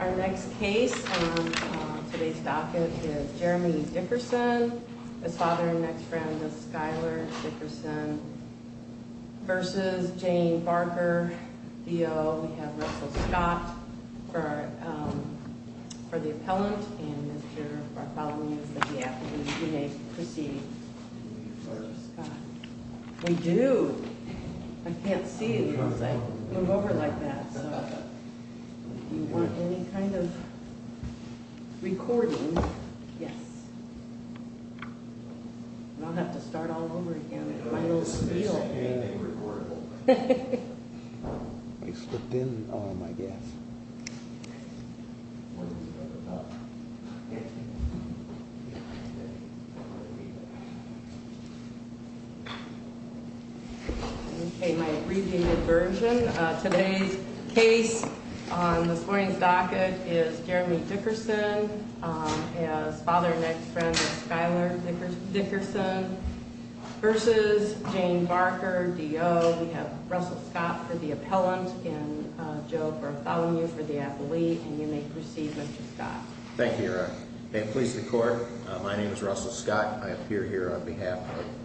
Our next case on today's docket is Jeremy Dickerson, his father and next friend, Ms. Skyler Dickerson v. Jane Barker, D.O. We have Russell Scott for the appellant and Mr. Bartholomew for the applicant. You may proceed, Mr. Scott. We do. I can't see you as I move over like that, so if you want any kind of recording, yes. And I'll have to start all over again with my little spiel. Okay, my abbreviated version, today's case on this morning's docket is Jeremy Dickerson, his father and next friend, Ms. Skyler Dickerson v. Jane Barker, D.O. We have Russell Scott for the appellant and Joe Bartholomew for the appellate. And you may proceed, Mr. Scott. Thank you, Your Honor. May it please the court, my name is Russell Scott. I appear here on behalf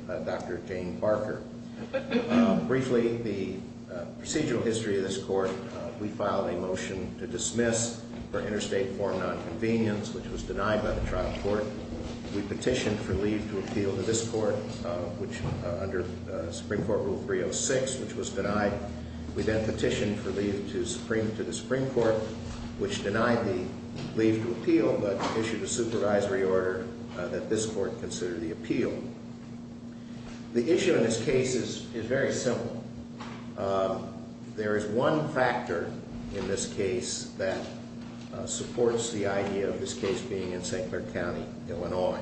of Dr. Jane Barker. Briefly, the procedural history of this court, we filed a motion to dismiss for interstate foreign nonconvenience, which was denied by the trial court. We petitioned for leave to appeal to this court, which under Supreme Court Rule 306, which was denied. We then petitioned for leave to the Supreme Court, which denied the leave to appeal, but issued a supervisory order that this court consider the appeal. The issue in this case is very simple. There is one factor in this case that supports the idea of this case being in St. Clair County, Illinois.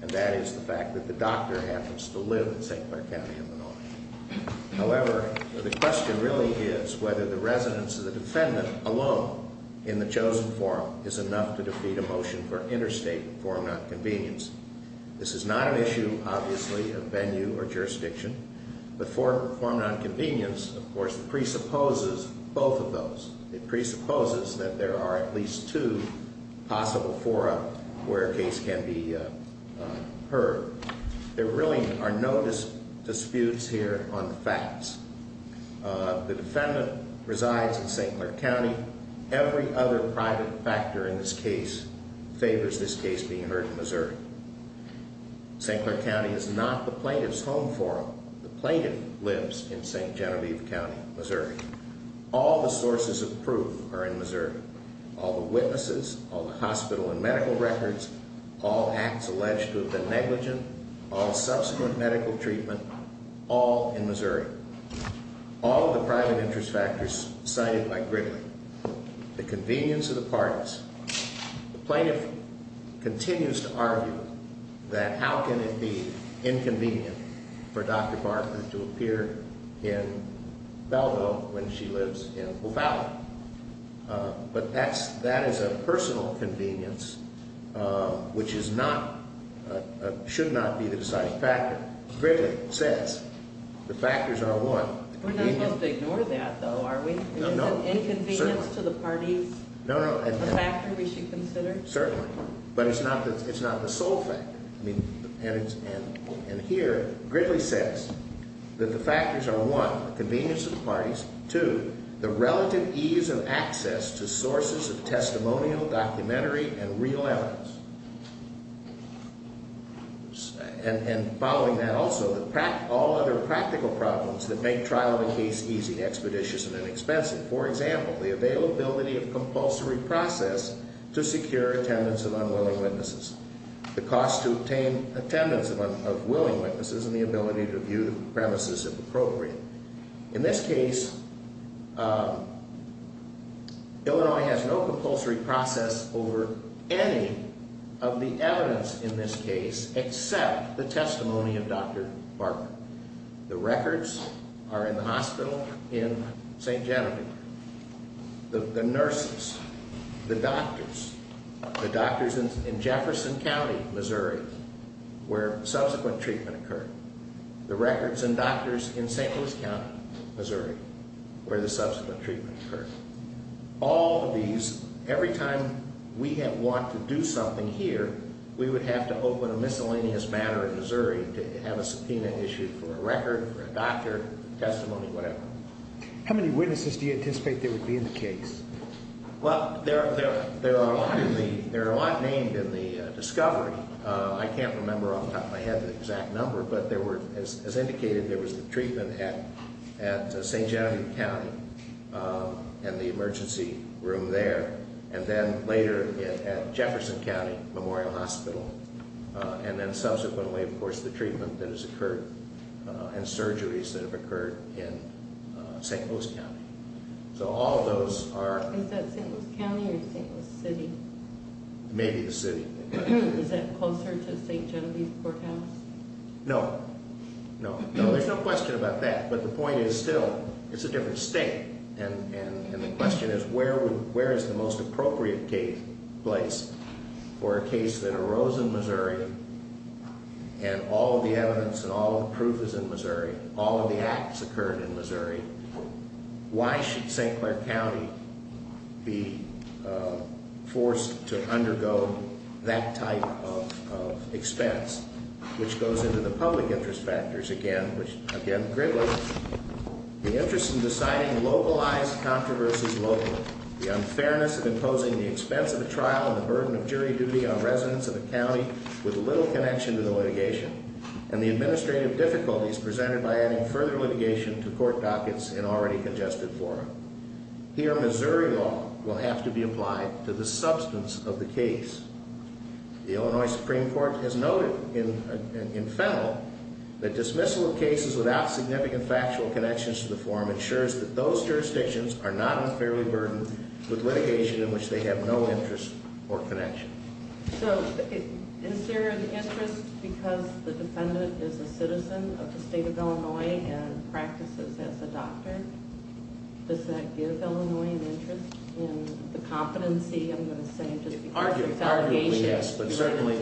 And that is the fact that the doctor happens to live in St. Clair County, Illinois. However, the question really is whether the residence of the defendant alone in the chosen forum is enough to defeat a motion for interstate foreign nonconvenience. This is not an issue, obviously, of venue or jurisdiction, but foreign nonconvenience, of course, presupposes both of those. It presupposes that there are at least two possible forums where a case can be heard. There really are no disputes here on facts. The defendant resides in St. Clair County. Every other private factor in this case favors this case being heard in Missouri. St. Clair County is not the plaintiff's home forum. The plaintiff lives in St. Genevieve County, Missouri. All the sources of proof are in Missouri. All the witnesses, all the hospital and medical records, all acts alleged to have been negligent, all subsequent medical treatment, all in Missouri. All of the private interest factors cited by Gridley. The plaintiff continues to argue that how can it be inconvenient for Dr. Barker to appear in Belleville when she lives in O'Fallon. But that is a personal convenience, which should not be the deciding factor. Gridley says the factors are one. We're not supposed to ignore that, though, are we? No, no. So inconvenience to the parties is a factor we should consider? Certainly. But it's not the sole factor. And here Gridley says that the factors are one, the convenience of the parties. Two, the relative ease of access to sources of testimonial, documentary, and real evidence. And following that also, all other practical problems that make trial of a case easy, expeditious, and inexpensive. For example, the availability of compulsory process to secure attendance of unwilling witnesses. The cost to obtain attendance of willing witnesses and the ability to view the premises if appropriate. In this case, Illinois has no compulsory process over any of the evidence in this case except the testimony of Dr. Barker. The records are in the hospital in St. Genevieve. The nurses, the doctors, the doctors in Jefferson County, Missouri, where subsequent treatment occurred. The records and doctors in St. Louis County, Missouri, where the subsequent treatment occurred. All of these, every time we had want to do something here, we would have to open a miscellaneous matter in Missouri to have a subpoena issued for a record, for a doctor, testimony, whatever. How many witnesses do you anticipate there would be in the case? Well, there are a lot named in the discovery. I can't remember off the top of my head the exact number. As indicated, there was the treatment at St. Genevieve County and the emergency room there. And then later at Jefferson County Memorial Hospital. And then subsequently, of course, the treatment that has occurred and surgeries that have occurred in St. Louis County. Is that St. Louis County or St. Louis City? Maybe the City. Is that closer to St. Genevieve Courthouse? No. No. No, there's no question about that. But the point is still, it's a different state. And the question is where is the most appropriate place for a case that arose in Missouri and all of the evidence and all of the proof is in Missouri, all of the acts occurred in Missouri. Why should St. Clair County be forced to undergo that type of expense? Which goes into the public interest factors again, which again, greatly. The interest in deciding localized controversies locally. The unfairness of imposing the expense of a trial and the burden of jury duty on residents of a county with little connection to the litigation. And the administrative difficulties presented by adding further litigation to court dockets in already congested form. Here, Missouri law will have to be applied to the substance of the case. The Illinois Supreme Court has noted in Fennell that dismissal of cases without significant factual connections to the form ensures that those jurisdictions are not unfairly burdened with litigation in which they have no interest or connection. So, is there an interest because the defendant is a citizen of the state of Illinois and practices as a doctor? Does that give Illinois an interest in the competency, I'm going to say, just because of the fabrication? Arguably, yes. Yes, but certainly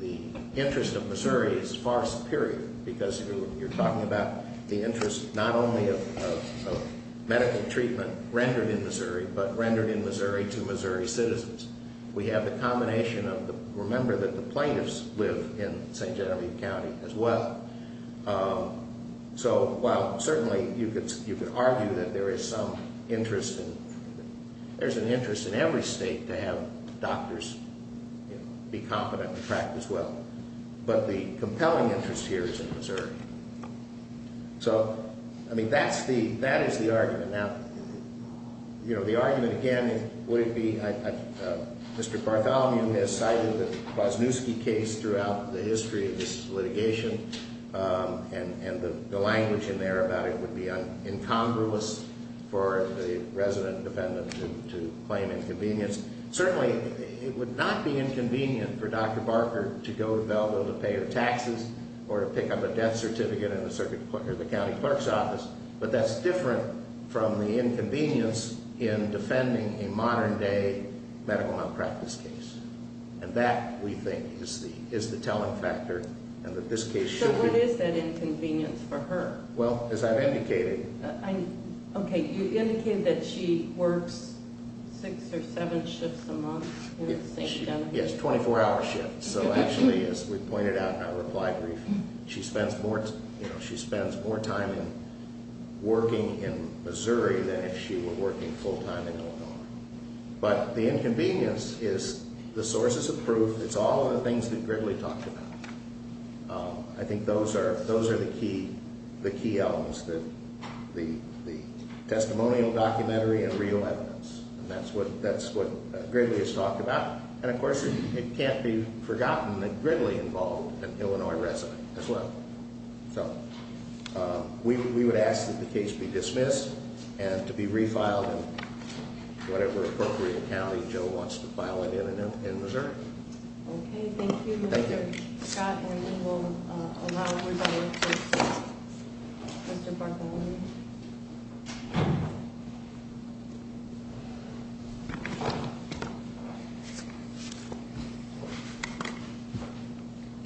the interest of Missouri is far superior because you're talking about the interest not only of medical treatment rendered in Missouri, but rendered in Missouri to Missouri citizens. We have the combination of, remember that the plaintiffs live in St. Genevieve County as well. So, while certainly you could argue that there is some interest in, there's an interest in every state to have doctors be competent and practice well. But the compelling interest here is in Missouri. So, I mean, that's the, that is the argument. Now, you know, the argument again, would it be, Mr. Bartholomew has cited the Kwasniewski case throughout the history of this litigation. And the language in there about it would be incongruous for the resident defendant to claim inconvenience. Certainly, it would not be inconvenient for Dr. Barker to go to Belleville to pay her taxes or to pick up a death certificate in the county clerk's office. But that's different from the inconvenience in defending a modern day medical malpractice case. And that, we think, is the telling factor and that this case should be. So, what is that inconvenience for her? Well, as I've indicated. Okay, you indicated that she works six or seven shifts a month. Yes, 24 hour shifts. So, actually, as we pointed out in our reply brief, she spends more, you know, she spends more time working in Missouri than if she were working full time in Illinois. But the inconvenience is the sources of proof. It's all of the things that Gridley talked about. I think those are the key elements, the testimonial, documentary, and real evidence. And that's what Gridley has talked about. And, of course, it can't be forgotten that Gridley involved an Illinois resident as well. So, we would ask that the case be dismissed and to be refiled in whatever appropriate county Joe wants to file it in in Missouri. Okay, thank you, Mr. Scott. And we will allow Mr. Bartholomew.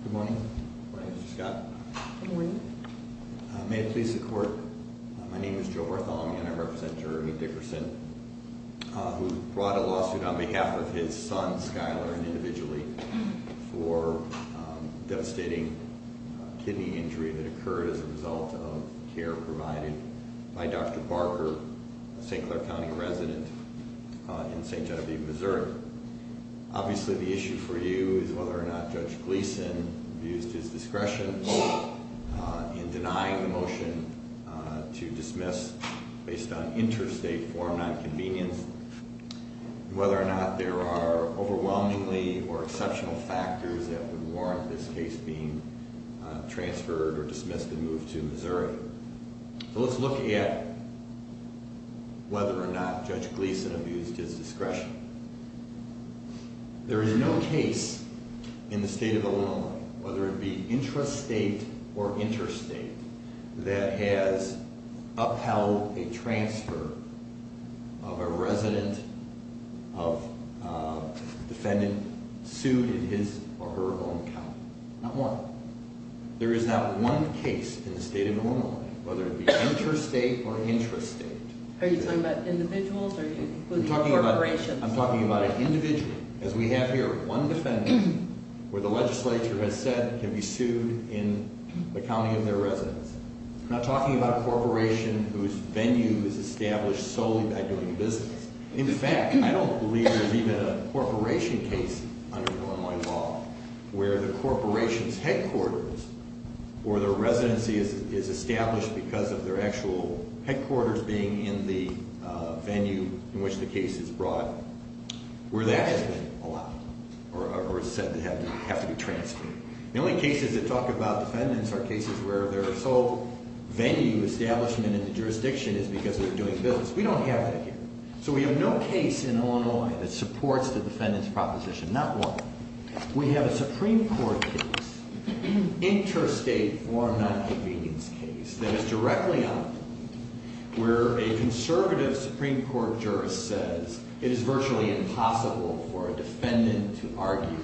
Good morning. Good morning, Mr. Scott. Good morning. May it please the Court, my name is Joe Bartholomew and I represent Jeremy Dickerson, who brought a lawsuit on behalf of his son, Skyler, and individually for devastating kidney injury that occurred as a result of care provided by Dr. Barker, a St. Clair County resident in St. Genevieve, Missouri. Obviously, the issue for you is whether or not Judge Gleason used his discretion in denying the motion to dismiss based on interstate form nonconvenience, whether or not there are overwhelmingly or exceptional factors that would warrant this case being transferred or dismissed and moved to Missouri. So, let's look at whether or not Judge Gleason abused his discretion. There is no case in the state of Illinois, whether it be intrastate or interstate, that has upheld a transfer of a resident of defendant sued in his or her own county. Not one. There is not one case in the state of Illinois, whether it be interstate or intrastate. Are you talking about individuals or corporations? I'm talking about an individual. As we have here, one defendant where the legislature has said can be sued in the county of their residence. I'm not talking about a corporation whose venue is established solely by doing business. In fact, I don't believe there's even a corporation case under Illinois law where the corporation's headquarters or their residency is established because of their actual headquarters being in the venue in which the case is brought, where that has been allowed or said to have to be transferred. The only cases that talk about defendants are cases where their sole venue establishment in the jurisdiction is because they're doing business. We don't have that here. So we have no case in Illinois that supports the defendant's proposition. Not one. We have a Supreme Court case, interstate or non-convenience case, that is directly up where a conservative Supreme Court jurist says it is virtually impossible for a defendant to argue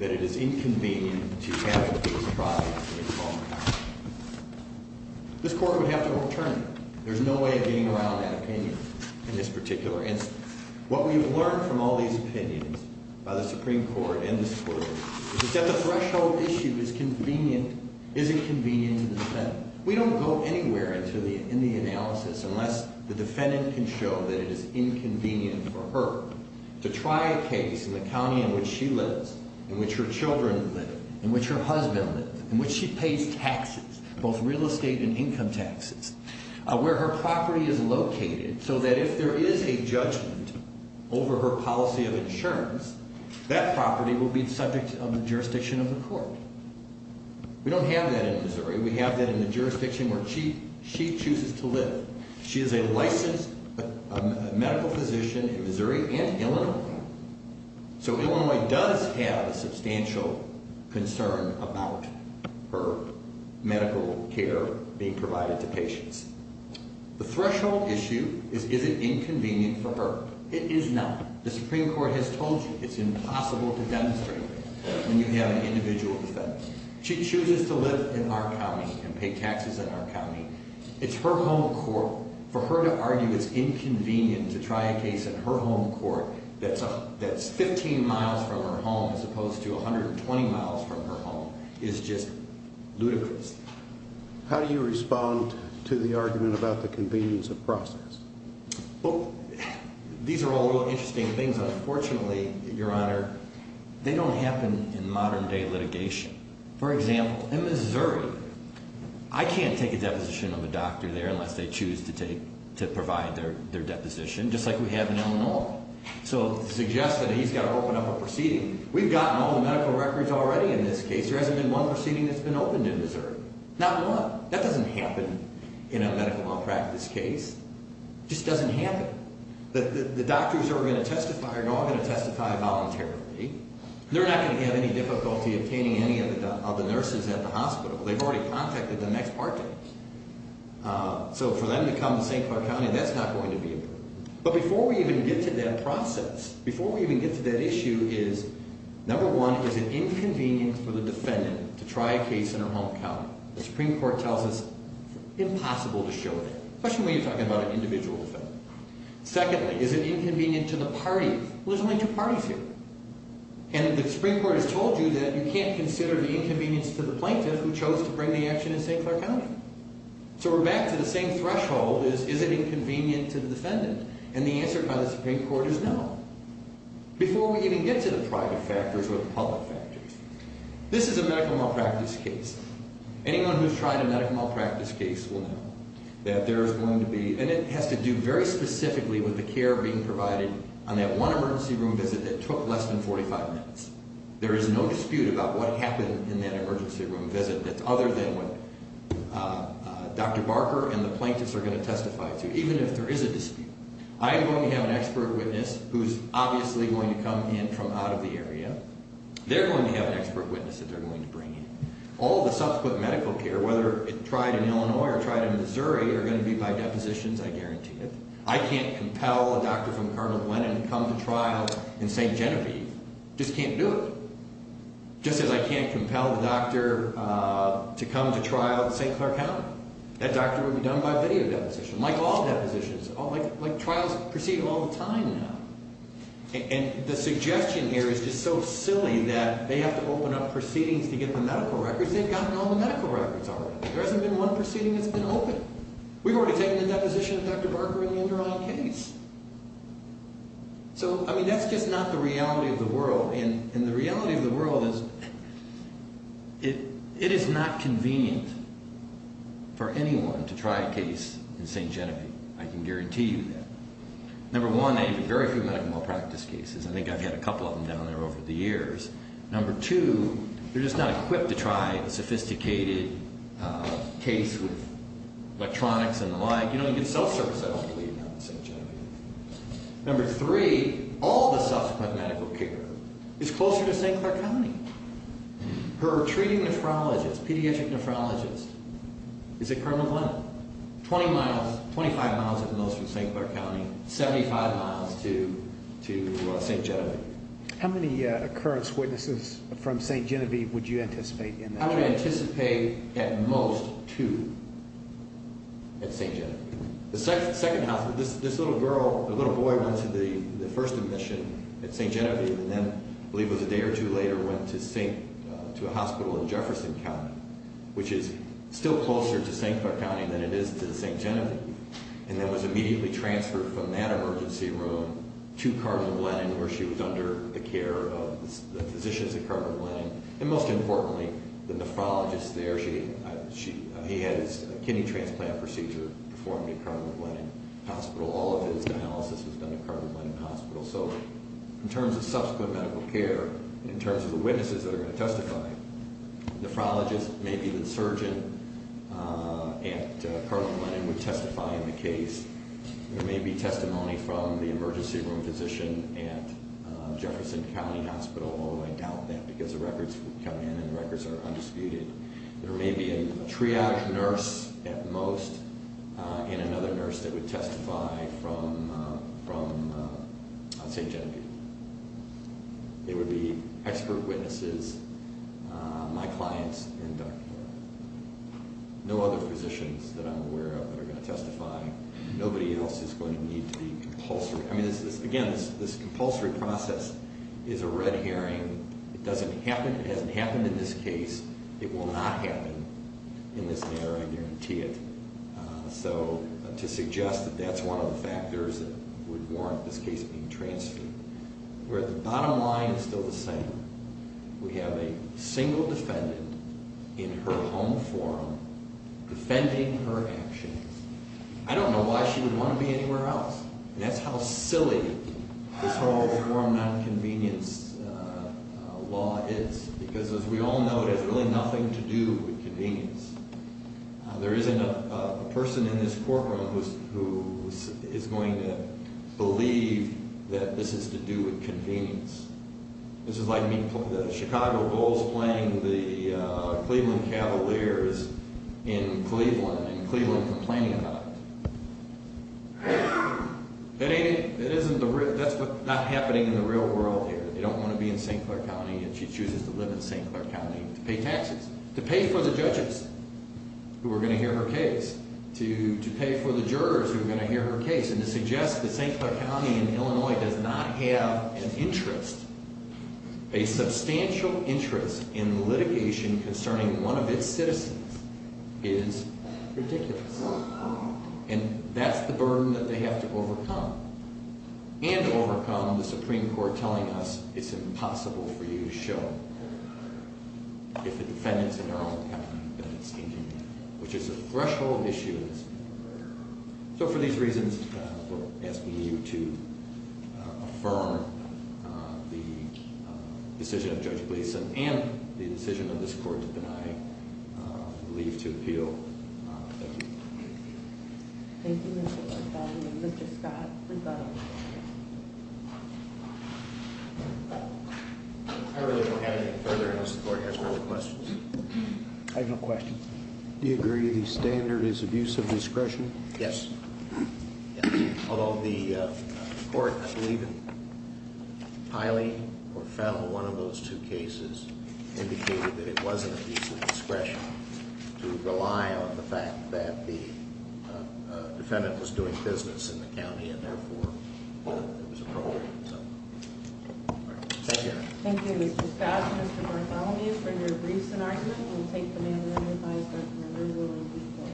that it is inconvenient to have a case brought into the court. This court would have to overturn it. There's no way of getting around that opinion in this particular instance. What we have learned from all these opinions by the Supreme Court and this court is that the threshold issue is convenient, is inconvenient to the defendant. We don't go anywhere in the analysis unless the defendant can show that it is inconvenient for her to try a case in the county in which she lives, in which her children live, in which her husband lives, in which she pays taxes, both real estate and income taxes. Where her property is located so that if there is a judgment over her policy of insurance, that property will be the subject of the jurisdiction of the court. We don't have that in Missouri. We have that in the jurisdiction where she chooses to live. She is a licensed medical physician in Missouri and Illinois. So Illinois does have a substantial concern about her medical care being provided to patients. The threshold issue is, is it inconvenient for her? It is not. The Supreme Court has told you it's impossible to demonstrate when you have an individual defendant. She chooses to live in our county and pay taxes in our county. It's her home court. For her to argue it's inconvenient to try a case in her home court that's 15 miles from her home as opposed to 120 miles from her home is just ludicrous. How do you respond to the argument about the convenience of process? Well, these are all real interesting things. Unfortunately, Your Honor, they don't happen in modern day litigation. For example, in Missouri, I can't take a deposition of a doctor there unless they choose to provide their deposition, just like we have in Illinois. So to suggest that he's got to open up a proceeding, we've gotten all the medical records already in this case. There hasn't been one proceeding that's been opened in Missouri. Not one. That doesn't happen in a medical malpractice case. It just doesn't happen. The doctors who are going to testify are all going to testify voluntarily. They're not going to have any difficulty obtaining any of the nurses at the hospital. They've already contacted the next party. So for them to come to St. Clark County, that's not going to be approved. But before we even get to that process, before we even get to that issue is, number one, is it inconvenient for the defendant to try a case in her home county? The Supreme Court tells us it's impossible to show that, especially when you're talking about an individual defendant. Secondly, is it inconvenient to the party? Well, there's only two parties here. And the Supreme Court has told you that you can't consider the inconvenience to the plaintiff who chose to bring the action in St. Clark County. So we're back to the same threshold as, is it inconvenient to the defendant? And the answer by the Supreme Court is no, before we even get to the private factors or the public factors. This is a medical malpractice case. Anyone who's tried a medical malpractice case will know that there is going to be, and it has to do very specifically with the care being provided on that one emergency room visit that took less than 45 minutes. There is no dispute about what happened in that emergency room visit that's other than what Dr. Barker and the plaintiffs are going to testify to, even if there is a dispute. I'm going to have an expert witness who's obviously going to come in from out of the area. They're going to have an expert witness that they're going to bring in. All the subsequent medical care, whether it's tried in Illinois or tried in Missouri, are going to be by depositions, I guarantee you. I can't compel a doctor from Cardinal Glen and come to trial in St. Genevieve. Just can't do it. Just as I can't compel the doctor to come to trial in St. Clark County. That doctor will be done by video deposition, like all depositions, like trials proceeding all the time now. And the suggestion here is just so silly that they have to open up proceedings to get the medical records. They've gotten all the medical records already. There hasn't been one proceeding that's been opened. We've already taken the deposition of Dr. Barker in the Induron case. So, I mean, that's just not the reality of the world. And the reality of the world is it is not convenient for anyone to try a case in St. Genevieve. I can guarantee you that. Number one, they have very few medical malpractice cases. I think I've had a couple of them down there over the years. Number two, they're just not equipped to try a sophisticated case with electronics and the like. You know, you get self-service, I don't believe, in St. Genevieve. Number three, all the subsequent medical care is closer to St. Clark County. Her treating nephrologist, pediatric nephrologist, is at Cardinal Glen. Twenty miles, 25 miles at most from St. Clark County, 75 miles to St. Genevieve. How many occurrence witnesses from St. Genevieve would you anticipate? I would anticipate at most two at St. Genevieve. The second hospital, this little girl, this little boy went to the first admission at St. Genevieve and then, I believe it was a day or two later, went to a hospital in Jefferson County, which is still closer to St. Clark County than it is to St. Genevieve, and then was immediately transferred from that emergency room to Cardinal Glen where she was under the care of the physicians at Cardinal Glen. And most importantly, the nephrologist there, he had his kidney transplant procedure performed at Cardinal Glen Hospital. All of his dialysis was done at Cardinal Glen Hospital. So in terms of subsequent medical care, in terms of the witnesses that are going to testify, the nephrologist, maybe the surgeon at Cardinal Glen who would testify in the case. There may be testimony from the emergency room physician at Jefferson County Hospital, although I doubt that because the records come in and the records are undisputed. There may be a triage nurse at most and another nurse that would testify from St. Genevieve. It would be expert witnesses, my clients, and no other physicians that I'm aware of that are going to testify. Nobody else is going to need to be compulsory. I mean, again, this compulsory process is a red herring. It doesn't happen, it hasn't happened in this case. It will not happen in this matter, I guarantee it. So to suggest that that's one of the factors that would warrant this case being transferred. Where the bottom line is still the same. We have a single defendant in her home form defending her actions. I don't know why she would want to be anywhere else. That's how silly this whole home form nonconvenience law is. Because as we all know, it has really nothing to do with convenience. There isn't a person in this courtroom who is going to believe that this is to do with convenience. This is like the Chicago Bulls playing the Cleveland Cavaliers in Cleveland and Cleveland complaining about it. That's not happening in the real world here. They don't want to be in St. Clair County and she chooses to live in St. Clair County to pay taxes. To pay for the judges who are going to hear her case. To pay for the jurors who are going to hear her case. And to suggest that St. Clair County in Illinois does not have an interest. A substantial interest in litigation concerning one of its citizens is ridiculous. And that's the burden that they have to overcome. And to overcome the Supreme Court telling us it's impossible for you to show if the defendant is in her own county. Which is a threshold issue. So for these reasons, we're asking you to affirm the decision of Judge Gleason and the decision of this court to deny leave to appeal. Thank you. Thank you Mr. Orfell and Mr. Scott. I really don't have anything further unless the court has more questions. I have no questions. Do you agree the standard is abuse of discretion? Yes. Although the court, I believe in Piley or Fell, one of those two cases, indicated that it wasn't abuse of discretion. To rely on the fact that the defendant was doing business in the county and therefore there was a problem. Thank you. Thank you Mr. Scott and Mr. Bartholomew for your briefs and argument. We'll take them in and revise them as we go along.